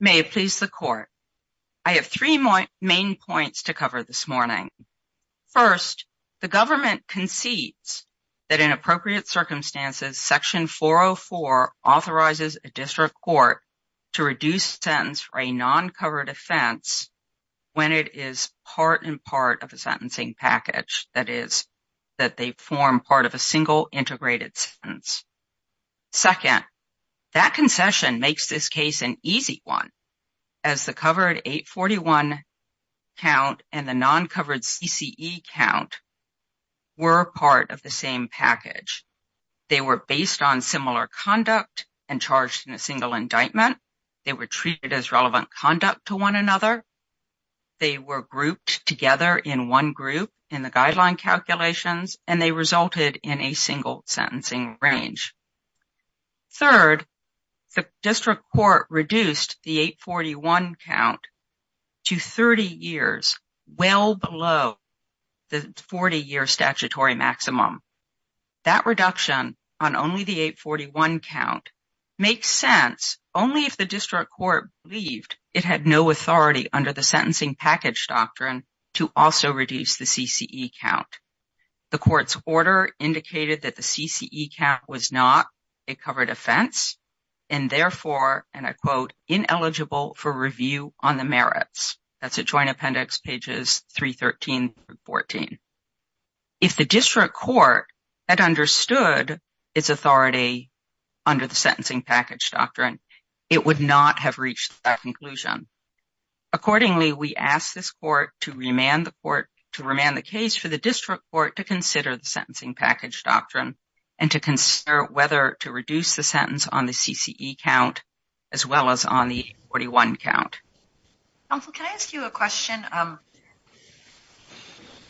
May it please the court. I have three main points to cover this morning. First, the government concedes that in appropriate circumstances, section 404 authorizes a district court to reduce sentence for a non-covered offense when it is part and part of a sentencing package. That is, that they form part of a single integrated sentence. Second, that concession makes this case an easy one as the covered 841 count and the non-covered CCE count were part of the same package. They were based on similar conduct and charged in a single indictment. They were treated as relevant conduct to one another. They were grouped together in one group in the guideline calculations, and they resulted in a single sentencing range. Third, the district court reduced the 841 count to 30 years, well below the 40 year statutory maximum. That reduction on only the 841 count makes sense only if the district court believed it had no authority under the sentencing package doctrine to also reduce the CCE count. The court's order indicated that the CCE count was not a covered offense and therefore, and I quote, ineligible for review on the merits. That's at Joint Appendix pages 313 through 14. If the district court had understood its authority under the sentencing package doctrine, it would not have reached that conclusion. Accordingly, we ask this court to remand the court, to remand the case for the district court to consider the sentencing package doctrine and to consider whether to reduce the sentence on the CCE count as well as on the 841 count. Counsel, can I ask you a question?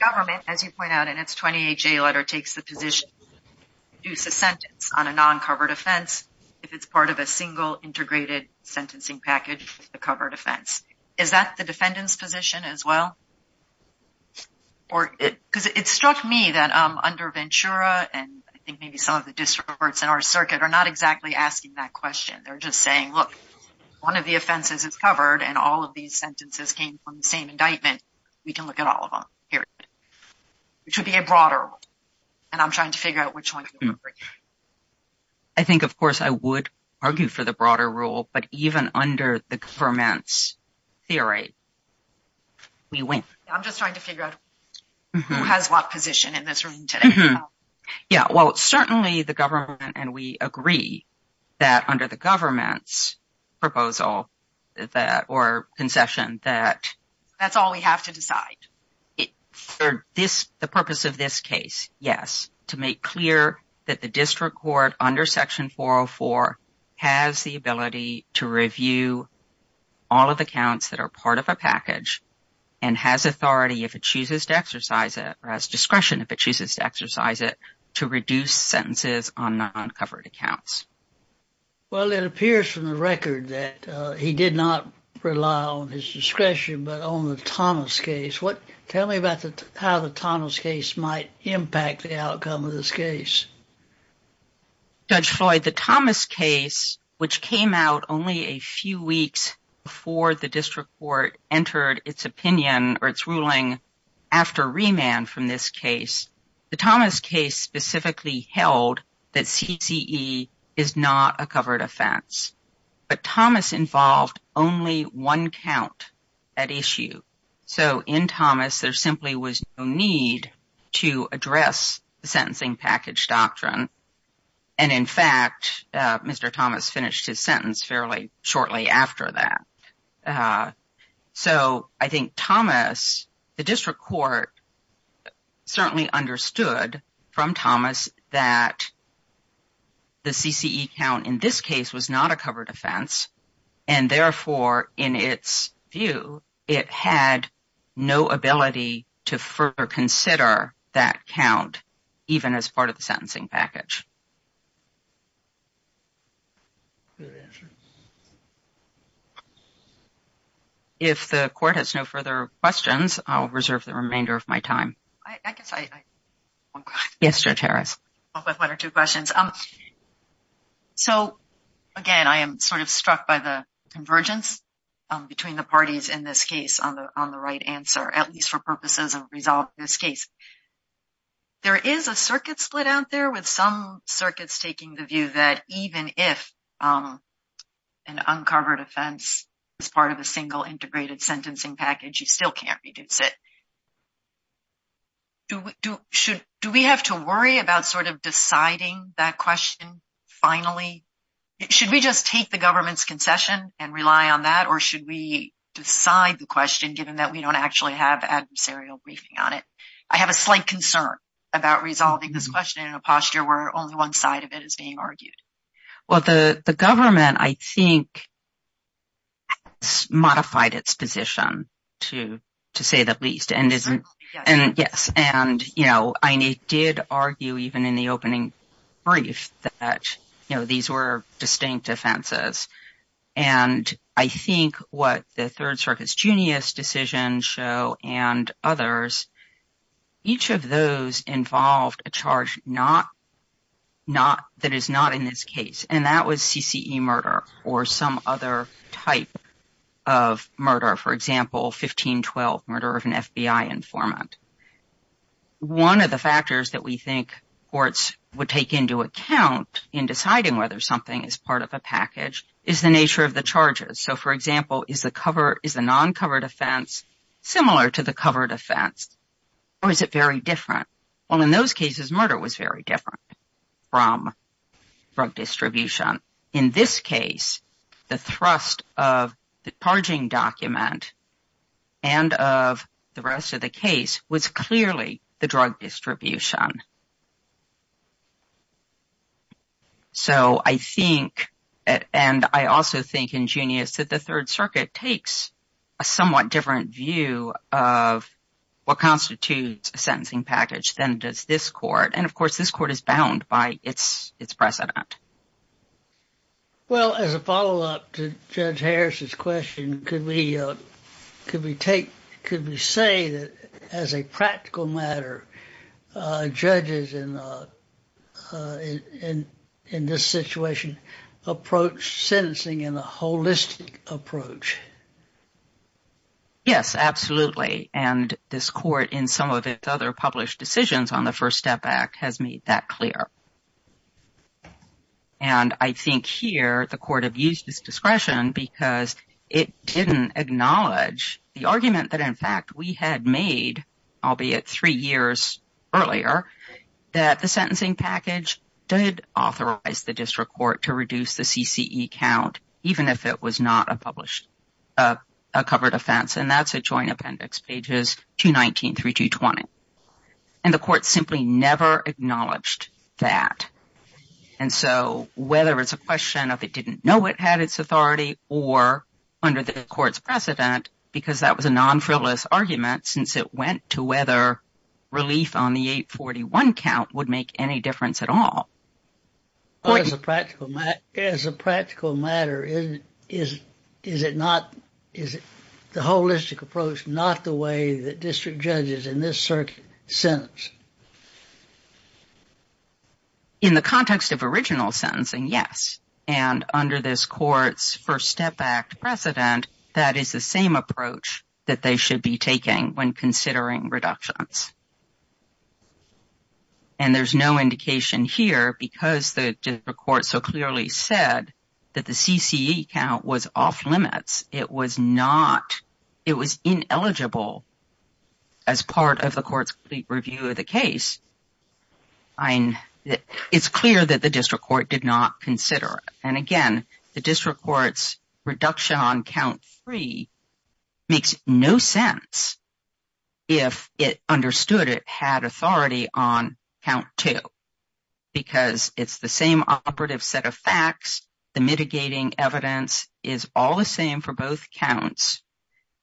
Government, as you point out in its 28-J letter, takes the position to reduce a sentence on a non-covered offense if it's part of a single, integrated sentencing package with a covered offense. Is that the defendant's position as well? Because it struck me that under Ventura and I think maybe some of the district courts in our circuit are not exactly asking that question. They're just saying, look, one of the offenses is covered and all of these sentences came from the same indictment. We can look at all of them, period. Which would be a broader rule. And I'm trying to figure out which one's the broader rule. But I think, of course, I would argue for the broader rule. But even under the government's theory, we wouldn't. I'm just trying to figure out who has what position in this room today. Yeah, well, certainly the government and we agree that under the government's proposal or concession that- That's all we have to decide. The purpose of this case, yes, to make clear that the district court under section 404 has the ability to review all of the counts that are part of a package and has authority if it chooses to exercise it or has discretion if it chooses to exercise it to reduce sentences on non-covered accounts. Well, it appears from the record that he did not rely on his discretion but on the Thomas case. Tell me about how the Thomas case might impact the outcome of this case. Judge Floyd, the Thomas case, which came out only a few weeks before the district court entered its opinion or its ruling after remand from this case, the Thomas case specifically held that CCE is not a covered offense. But Thomas involved only one count, that issue. So in Thomas, there simply was no need to address the sentencing package doctrine. And in fact, Mr. Thomas finished his sentence fairly shortly after that. So I think Thomas, the district court certainly understood from Thomas that the CCE count in this case was not a covered offense and therefore, in its view, it had no ability to further consider that count even as part of the sentencing package. If the court has no further questions, I'll reserve the remainder of my time. I guess I have one question. Yes, Judge Harris. I have one or two questions. So again, I am sort of struck by the convergence between the parties in this case on the right answer, at least for purposes of resolving this case. There is a circuit split out there with some circuits taking the view that even if an uncovered offense is part of a single integrated sentencing package, you still can't reduce it. Do we have to worry about sort of deciding that question finally? Should we just take the government's concession and rely on that? Or should we decide the question given that we don't actually have adversarial briefing on it? I have a slight concern about resolving this question in a posture where only one side of it is being argued. Well, the government, I think, has modified its position to say the least. And yes, and you know, I did argue even in the opening brief that these were distinct offenses. And I think what the Third Circuit's Junius decision show and others, each of those involved a charge that is not in this case. And that was CCE murder or some other type of murder. For example, 1512, murder of an FBI informant. One of the factors that we think courts would take into account in deciding whether something is part of a package is the nature of the charges. So for example, is the non-covered offense similar to the covered offense? Or is it very different? Well, in those cases, murder was very different from drug distribution. In this case, the thrust of the charging document and of the rest of the case was clearly the drug distribution. So I think, and I also think in Junius that the Third Circuit takes a somewhat different view of what constitutes a sentencing package than does this court. And of course, this court is bound by its precedent. Well, as a follow-up to Judge Harris's question, could we take, could we say that as a practical matter, judges in this situation approach sentencing in a holistic approach? Yes, absolutely. And this court in some of its other published decisions on the First Step Act has made that clear. And I think here, the court abused its discretion because it didn't acknowledge the argument that in fact we had made, albeit three years earlier, that the sentencing package did authorize the district court to reduce the CCE count, even if it was not a covered offense. And that's a joint appendix, pages 219 through 220. And the court simply never acknowledged that. And so whether it's a question of it didn't know it had its authority or under the court's precedent, because that was a non-frivolous argument since it went to whether relief on the 841 count would make any difference at all. As a practical matter, is it not, is the holistic approach not the way that district judges in this circuit sentence? In the context of original sentencing, yes. And under this court's First Step Act precedent, that is the same approach that they should be taking when considering reductions. And there's no indication here because the district court so clearly said that the CCE count was off limits. It was not, it was ineligible as part of the court's review of the case. And it's clear that the district court did not consider it. And again, the district court's reduction on count three makes no sense if it understood it had authority on count two, because it's the same operative set of facts. The mitigating evidence is all the same for both counts.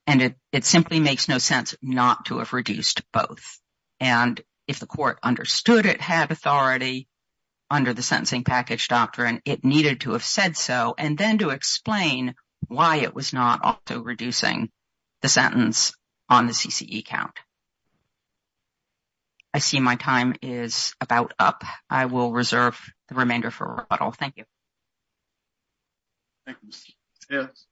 And it simply makes no sense not to have reduced both. And if the court understood it had authority under the Sentencing Package Doctrine, it needed to have said so, and then to explain why it was not also reducing the sentence on the CCE count. I see my time is about up. I will reserve the remainder for a rebuttal. Thank you. Thank you. Yes.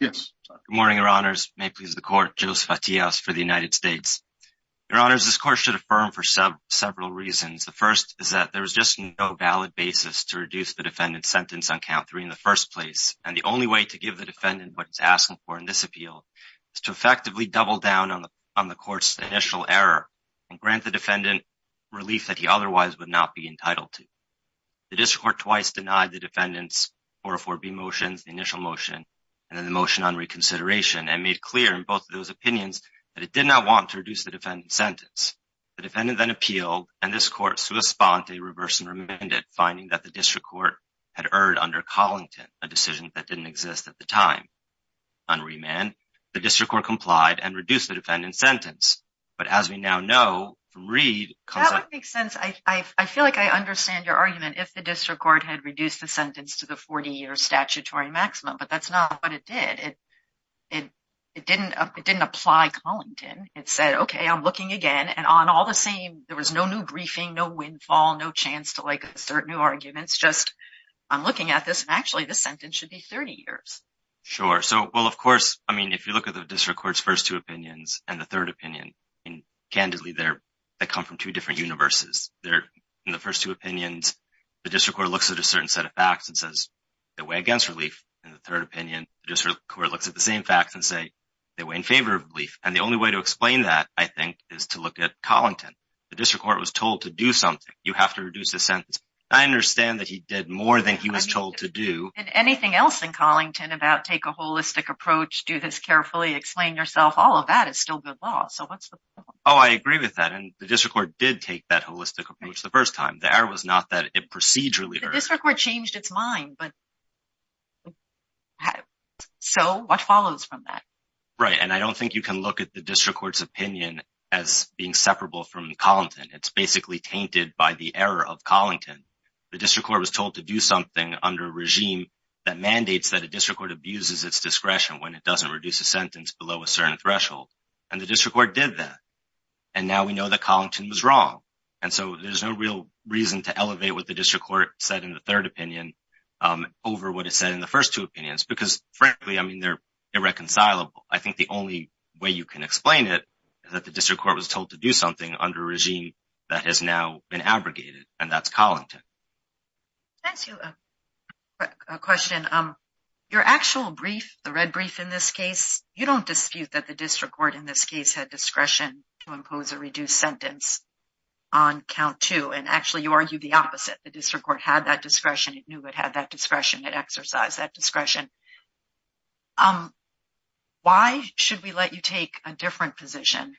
Yes. Good morning, your honors. May it please the court, Joseph Attias for the United States. Your honors, this court should affirm for several reasons. The first is that there was just no valid basis to reduce the defendant's sentence on count three in the first place. And the only way to give the defendant what it's asking for in this appeal is to effectively double down on the court's initial error and grant the defendant relief that he otherwise would not be entitled to. The district court twice denied the defendant's initial motion and then the motion on reconsideration and made clear in both of those opinions that it did not want to reduce the defendant's sentence. The defendant then appealed, and this court sui sponte, reverse and remanded, finding that the district court had erred under Collington, a decision that didn't exist at the time. On remand, the district court complied and reduced the defendant's sentence. But as we now know from Reed- That would make sense. I feel like I understand your argument. If the district court had reduced the sentence to the 40-year statutory maximum, but that's not what it did. It didn't apply Collington. It said, okay, I'm looking again. And on all the same, there was no new briefing, no windfall, no chance to assert new arguments. Just, I'm looking at this. Actually, this sentence should be 30 years. Sure. So, well, of course, I mean, if you look at the district court's first two opinions and the third opinion, candidly, they come from two different universes. In the first two opinions, the district court looks at a certain set of facts and says, they weigh against relief. In the third opinion, the district court looks at the same facts and say, they weigh in favor of relief. And the only way to explain that, I think, is to look at Collington. The district court was told to do something. You have to reduce the sentence. I understand that he did more than he was told to do. And anything else in Collington about take a holistic approach, do this carefully, explain yourself, all of that is still good law. So what's the point? Oh, I agree with that. And the district court did take that holistic approach the first time. The error was not that it procedurally- The district court changed its mind, but so what follows from that? Right, and I don't think you can look at the district court's opinion as being separable from Collington. It's basically tainted by the error of Collington. The district court was told to do something under a regime that mandates that a district court abuses its discretion when it doesn't reduce a sentence below a certain threshold. And the district court did that. And now we know that Collington was wrong. And so there's no real reason to elevate what the district court said in the third opinion over what it said in the first two opinions, because frankly, I mean, they're irreconcilable. I think the only way you can explain it is that the district court was told to do something under a regime that has now been abrogated, and that's Collington. Thank you. A question, your actual brief, the red brief in this case, you don't dispute that the district court in this case had discretion to impose a reduced sentence on count two. And actually, you argue the opposite. The district court had that discretion. It knew it had that discretion. It exercised that discretion. Why should we let you take a different position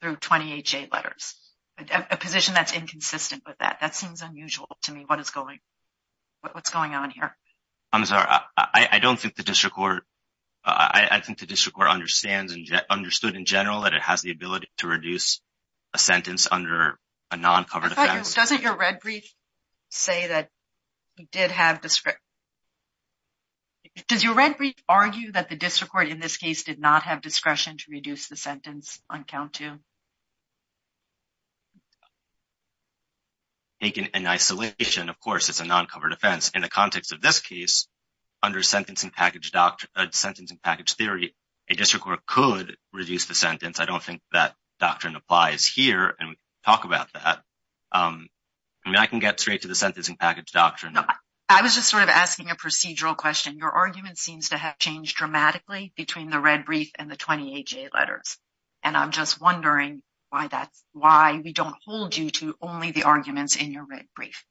through 28J letters, a position that's inconsistent with that? That seems unusual to me. What is going, what's going on here? I'm sorry. I don't think the district court, I think the district court understands and understood in general that it has the ability to reduce a sentence under a non-covered offense. Doesn't your red brief say that it did have discretion? Does your red brief argue that the district court in this case did not have discretion to reduce the sentence on count two? Taken in isolation, of course, it's a non-covered offense. In the context of this case, under sentencing package theory, a district court could reduce the sentence. I don't think that doctrine applies here. And we can talk about that. I mean, I can get straight to the sentencing package doctrine. I was just sort of asking a procedural question. Your argument seems to have changed dramatically between the red brief and the 28J letters. And I'm just wondering why that's, why we don't hold you to only the arguments in your red brief.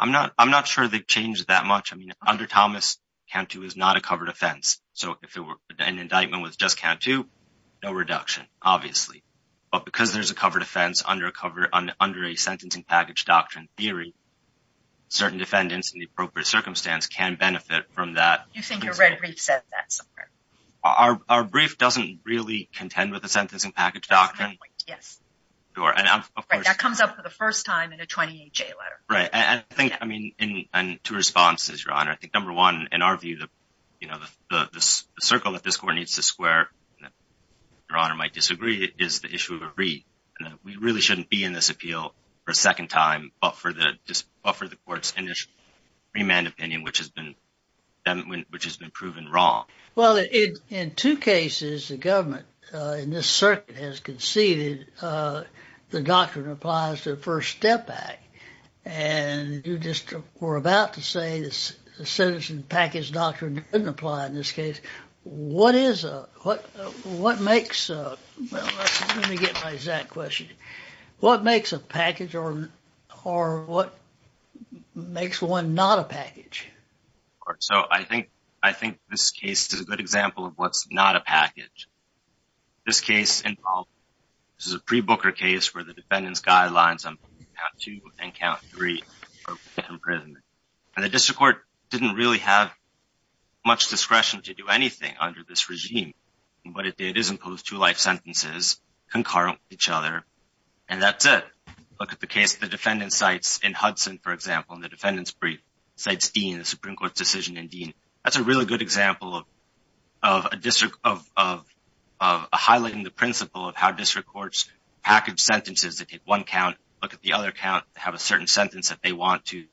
I'm not sure they changed that much. I mean, under Thomas, count two is not a covered offense. So if an indictment was just count two, no reduction, obviously. But because there's a covered offense under a sentencing package doctrine theory, certain defendants in the appropriate circumstance can benefit from that. You think your red brief said that somewhere? Our brief doesn't really contend with the sentencing package doctrine. Yes. Sure, and of course- Right, that comes up for the first time in a 28J letter. Right, and I think, I mean, and two responses, Your Honor. I think number one, in our view, you know, the circle that this court needs to square, Your Honor might disagree, is the issue of a read. We really shouldn't be in this appeal for a second time, but for the court's initial remand opinion, which has been proven wrong. Well, in two cases, the government in this circuit has conceded the doctrine applies to the First Step Act. And you just were about to say the sentencing package doctrine doesn't apply in this case. What is a, what makes a, well, let me get my exact question. What makes a package or what makes one not a package? So I think this case is a good example of what's not a package. This case involved, this is a pre-Booker case where the defendant's guidelines on count two and count three are imprisonment. And the district court didn't really have much discretion to do anything under this regime, but it is imposed two life sentences concurrent with each other, and that's it. Look at the case, the defendant cites in Hudson, for example, in the defendant's brief, cites Dean, the Supreme Court's decision in Dean. That's a really good example of a district, of highlighting the principle of how district courts package sentences. They take one count, look at the other count, have a certain sentence that they want to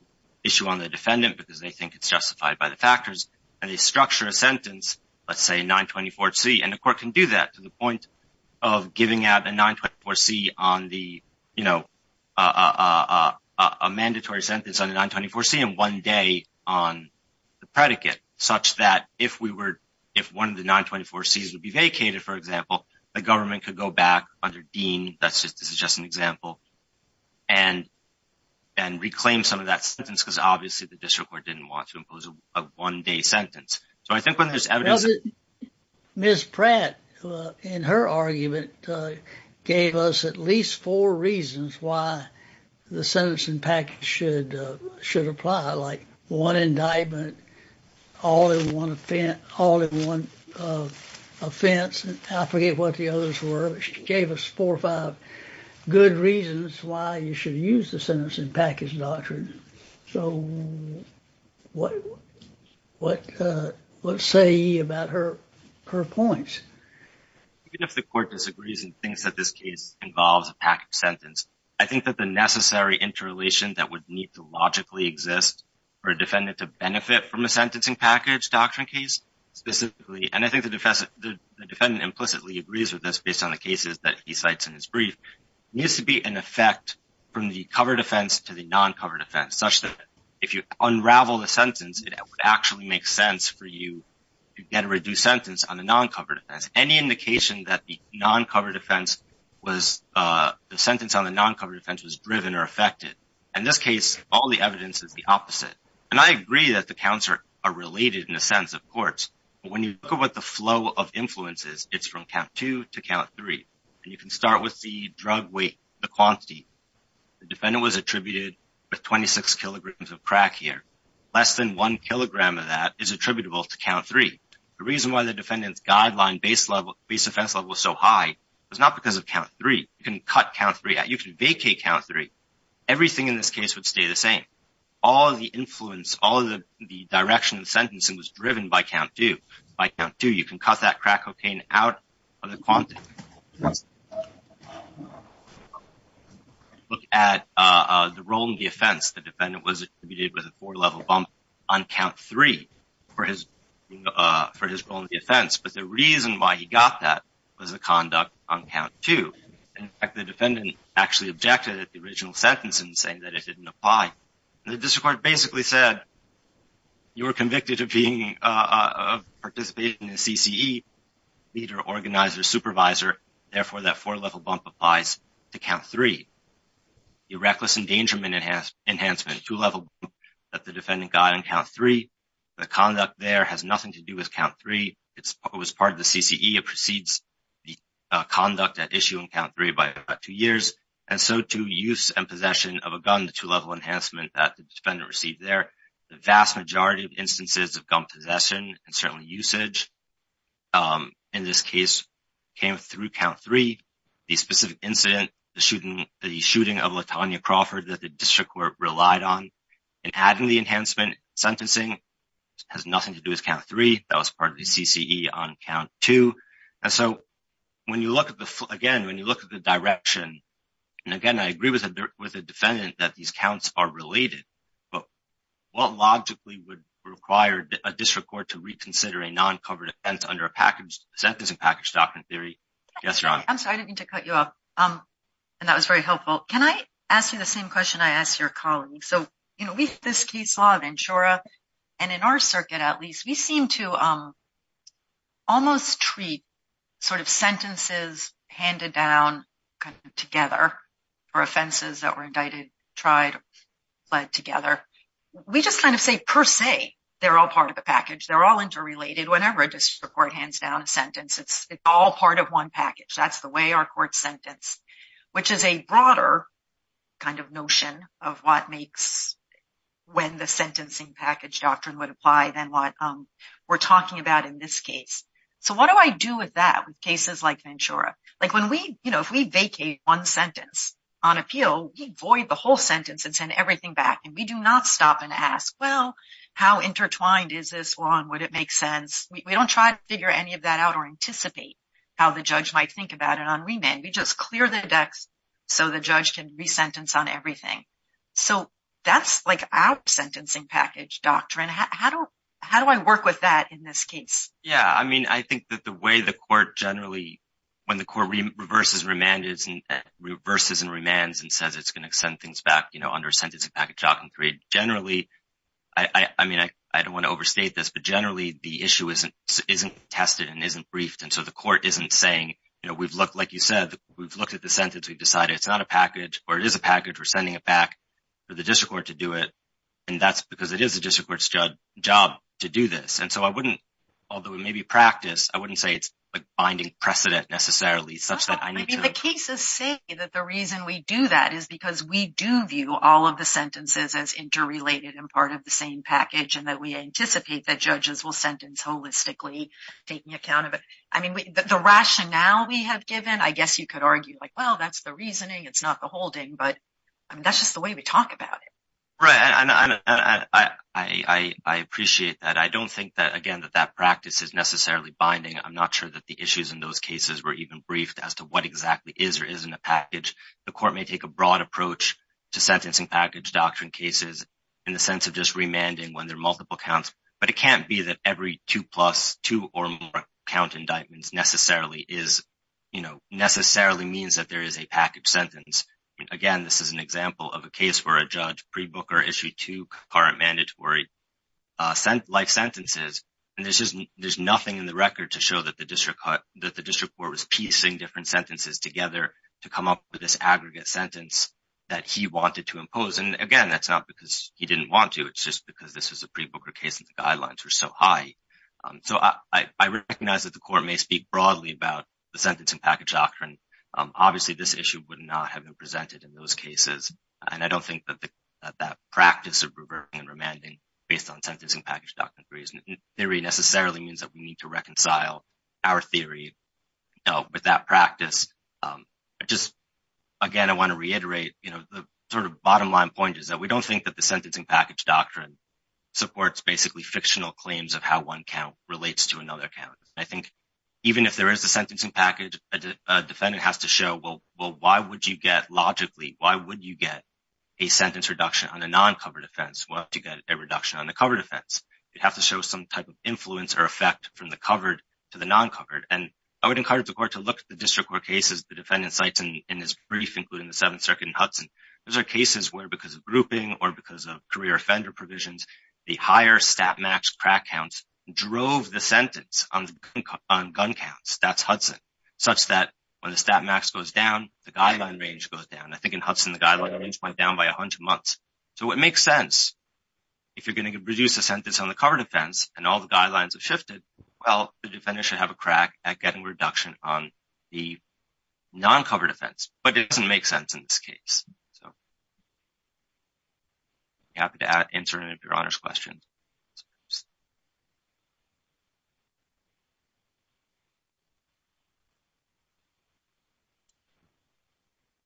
issue on the defendant because they think it's justified by the factors. And they structure a sentence, let's say 924C, and the court can do that to the point of giving out a 924C on the, you know, a mandatory sentence on the 924C and one day on the predicate such that if we were, if one of the 924Cs would be vacated, for example, the government could go back under Dean, that's just, this is just an example, and reclaim some of that sentence because obviously the district court didn't want to impose a one day sentence. So I think when there's evidence that- Ms. Pratt, in her argument, gave us at least four reasons why the sentencing package should apply, like one indictment, all in one offense, all in one offense, and I forget what the others were, but she gave us four or five good reasons why you should use the sentencing package doctrine. So what say you about her points? Even if the court disagrees and thinks that this case involves a package sentence, I think that the necessary interrelation that would need to logically exist for a defendant to benefit from a sentencing package doctrine case specifically, and I think the defendant implicitly agrees with this based on the cases that he cites in his brief, needs to be an effect from the covered offense to the non-covered offense, such that if you unravel the sentence, it would actually make sense for you to get a reduced sentence on the non-covered offense. Any indication that the sentence on the non-covered offense was driven or affected. In this case, all the evidence is the opposite. And I agree that the counts are related in a sense of courts, but when you look at what the flow of influence is, it's from count two to count three, and you can start with the drug weight, the quantity. The defendant was attributed with 26 kilograms of crack here. Less than one kilogram of that is attributable to count three. The reason why the defendant's guideline base offense level was so high was not because of count three. You can cut count three out. You can vacate count three. Everything in this case would stay the same. All of the influence, all of the direction of the sentencing was driven by count two. By count two, you can cut that crack cocaine out of the quantity. Look at the role in the offense. The defendant was attributed with a four-level bump on count three for his role in the offense, but the reason why he got that was the conduct on count two. In fact, the defendant actually objected at the original sentence in saying that it didn't apply. The district court basically said you were convicted of being, participating in a CCE, leader, organizer, supervisor, therefore that four-level bump applies to count three. The reckless endangerment enhancement, two-level bump that the defendant got on count three, the conduct there has nothing to do with count three. It was part of the CCE. It precedes the conduct at issue on count three by about two years, and so to use and possession of a gun, the two-level enhancement that the defendant received there, the vast majority of instances of gun possession and certainly usage in this case came through count three. The specific incident, the shooting of Latonya Crawford that the district court relied on and adding the enhancement sentencing has nothing to do with count three. That was part of the CCE on count two, and so when you look at the, again, when you look at the direction, and again, I agree with the defendant that these counts are related, but what logically would require a district court to reconsider a non-covered offense under a sentencing package doctrine theory? Yes, Ron. I'm sorry, I didn't mean to cut you off, and that was very helpful. Can I ask you the same question I asked your colleague? So with this case law of insura, and in our circuit, at least, we seem to almost treat sentences handed down together for offenses that were indicted, tried, fled together. We just kind of say, per se, they're all part of a package. They're all interrelated. Whenever a district court hands down a sentence, it's all part of one package. That's the way our court sentenced, which is a broader kind of notion of what makes when the sentencing package doctrine would apply than what we're talking about in this case. So what do I do with that with cases like insura? Like if we vacate one sentence on appeal, we void the whole sentence and send everything back, and we do not stop and ask, well, how intertwined is this one? Would it make sense? We don't try to figure any of that out or anticipate how the judge might think about it on remand. We just clear the decks so the judge can resentence on everything. So that's like our sentencing package doctrine. How do I work with that in this case? Yeah, I mean, I think that the way the court generally, when the court reverses and remands and says it's gonna send things back under sentencing package doctrine three, generally, I mean, I don't wanna overstate this, but generally, the issue isn't tested and isn't briefed. And so the court isn't saying, you know, we've looked, like you said, we've looked at the sentence, we've decided, it's not a package or it is a package, we're sending it back for the district court to do it. And that's because it is a district court's job to do this. And so I wouldn't, although it may be practice, I wouldn't say it's a binding precedent necessarily such that I need to- The cases say that the reason we do that is because we do view all of the sentences as interrelated and part of the same package and that we anticipate that judges will sentence holistically taking account of it. I mean, the rationale we have given, I guess you could argue like, well, that's the reasoning, it's not the holding, but I mean, that's just the way we talk about it. Right, and I appreciate that. I don't think that, again, that that practice is necessarily binding. I'm not sure that the issues in those cases were even briefed as to what exactly is or isn't a package. The court may take a broad approach to sentencing package doctrine cases in the sense of just remanding when there are multiple counts, but it can't be that every two plus, two or more count indictments necessarily is, necessarily means that there is a package sentence. Again, this is an example of a case where a judge pre-booker issued two current mandatory life sentences. And there's nothing in the record to show that the district court was piecing different sentences together to come up with this aggregate sentence that he wanted to impose. And again, that's not because he didn't want to, it's just because this is a pre-booker case and the guidelines were so high. So I recognize that the court may speak broadly about the sentencing package doctrine. Obviously, this issue would not have been presented in those cases. And I don't think that that practice of reverting and remanding based on sentencing package doctrine theory necessarily means that we need to reconcile our theory with that practice. I just, again, I want to reiterate, the sort of bottom line point is that we don't think that the sentencing package doctrine supports basically fictional claims of how one count relates to another count. I think even if there is a sentencing package, a defendant has to show, well, why would you get, logically, why would you get a sentence reduction on a non-covered offense? Why don't you get a reduction on the covered offense? You'd have to show some type of influence or effect from the covered to the non-covered. And I would encourage the court to look at the district court cases the defendant cites in his brief, including the Seventh Circuit and Hudson. Those are cases where, because of grouping or because of career offender provisions, the higher stat max crack counts drove the sentence on gun counts, that's Hudson, such that when the stat max goes down, the guideline range goes down. I think in Hudson, the guideline range went down by 100 months. So it makes sense. If you're gonna reduce the sentence on the covered offense and all the guidelines have shifted, well, the defendant should have a crack at getting reduction on the non-covered offense, but it doesn't make sense in this case. So happy to answer any of your honors questions.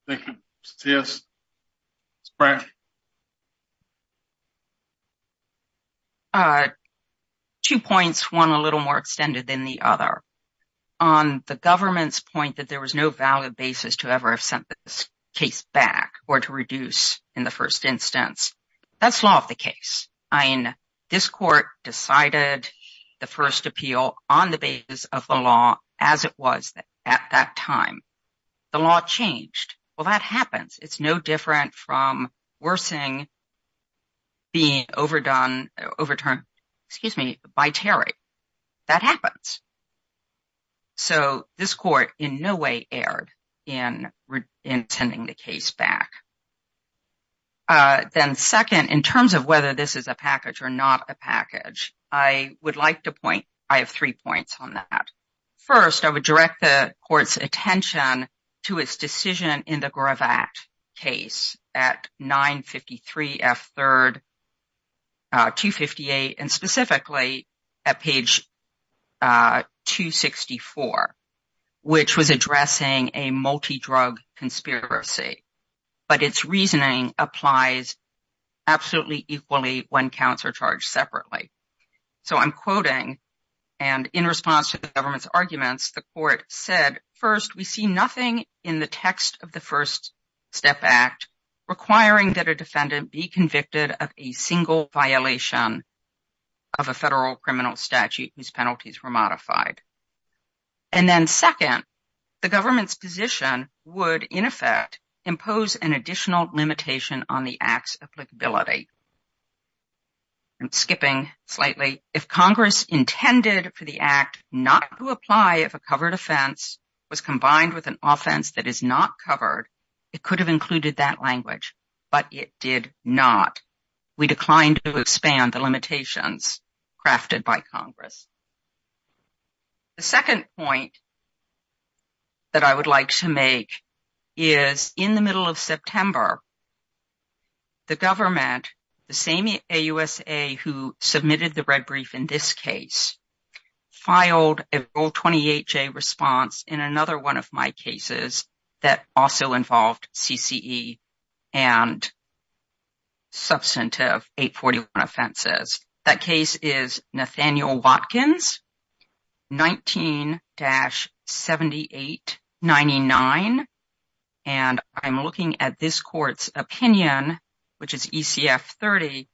Thank you. C.S. Two points, one a little more extended than the other. On the government's point that there was no valid basis to ever have sent this case back or to reduce in the first instance. That's law of the case. This court decided the first appeal on the basis of the law as it was at that time. The law changed. Well, that happens. It's no different from worsening being overturned, excuse me, by Terry. That happens. So this court in no way erred in sending the case back. Then second, in terms of whether this is a package or not a package, I would like to point, I have three points on that. First, I would direct the court's attention to its decision in the Gravatt case at 953 F. 3rd, 258. And specifically at page 264, which was addressing a multi-drug conspiracy. But its reasoning applies absolutely equally when counts are charged separately. So I'm quoting and in response to the government's arguments the court said, first, we see nothing in the text of the First Step Act, requiring that a defendant be convicted of a single violation of a federal criminal statute whose penalties were modified. And then second, the government's position would in effect impose an additional limitation on the act's applicability. I'm skipping slightly. If Congress intended for the act not to apply if a covered offense was combined with an offense that is not covered, it could have included that language, but it did not. We declined to expand the limitations crafted by Congress. The second point that I would like to make is in the middle of September, the government, the same AUSA who submitted the red brief in this case, filed a Rule 28J response in another one of my cases that also involved CCE and substantive 841 offenses. That case is Nathaniel Watkins, 19-7899. And I'm looking at this court's opinion, which is ECF 30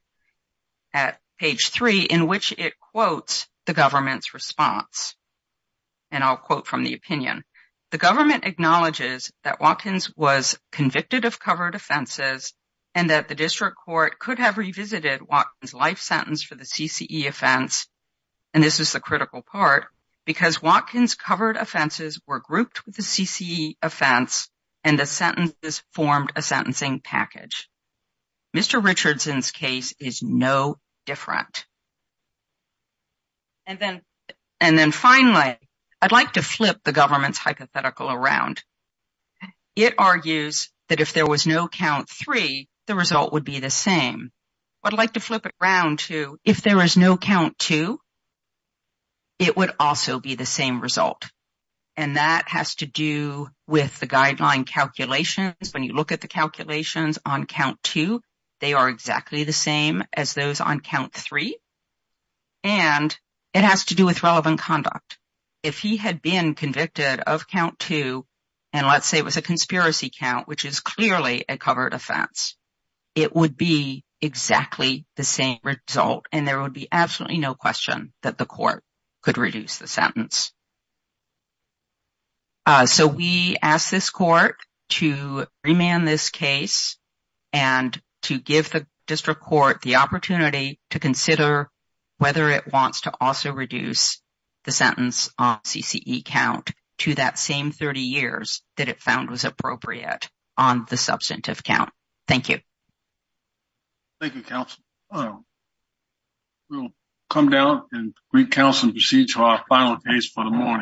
at page three, in which it quotes the government's response. And I'll quote from the opinion. The government acknowledges that Watkins was convicted of covered offenses and that the district court could have revisited Watkins' life sentence for the CCE offense, and this is the critical part, because Watkins' covered offenses were grouped with the CCE offense and the sentences formed a sentencing package. Mr. Richardson's case is no different. And then finally, I'd like to flip the government's hypothetical around. It argues that if there was no count three, the result would be the same. I'd like to flip it around to if there is no count two, it would also be the same result. And that has to do with the guideline calculations. When you look at the calculations on count two, they are exactly the same as those on count three. And it has to do with relevant conduct. If he had been convicted of count two, and let's say it was a conspiracy count, which is clearly a covered offense, it would be exactly the same result. And there would be absolutely no question that the court could reduce the sentence. So we asked this court to remand this case and to give the district court the opportunity to consider whether it wants to also reduce the sentence on CCE count to that same 30 years that it found was appropriate on the substantive count. Thank you. Thank you, counsel. We'll come down and recounsel and proceed to our final case for the morning.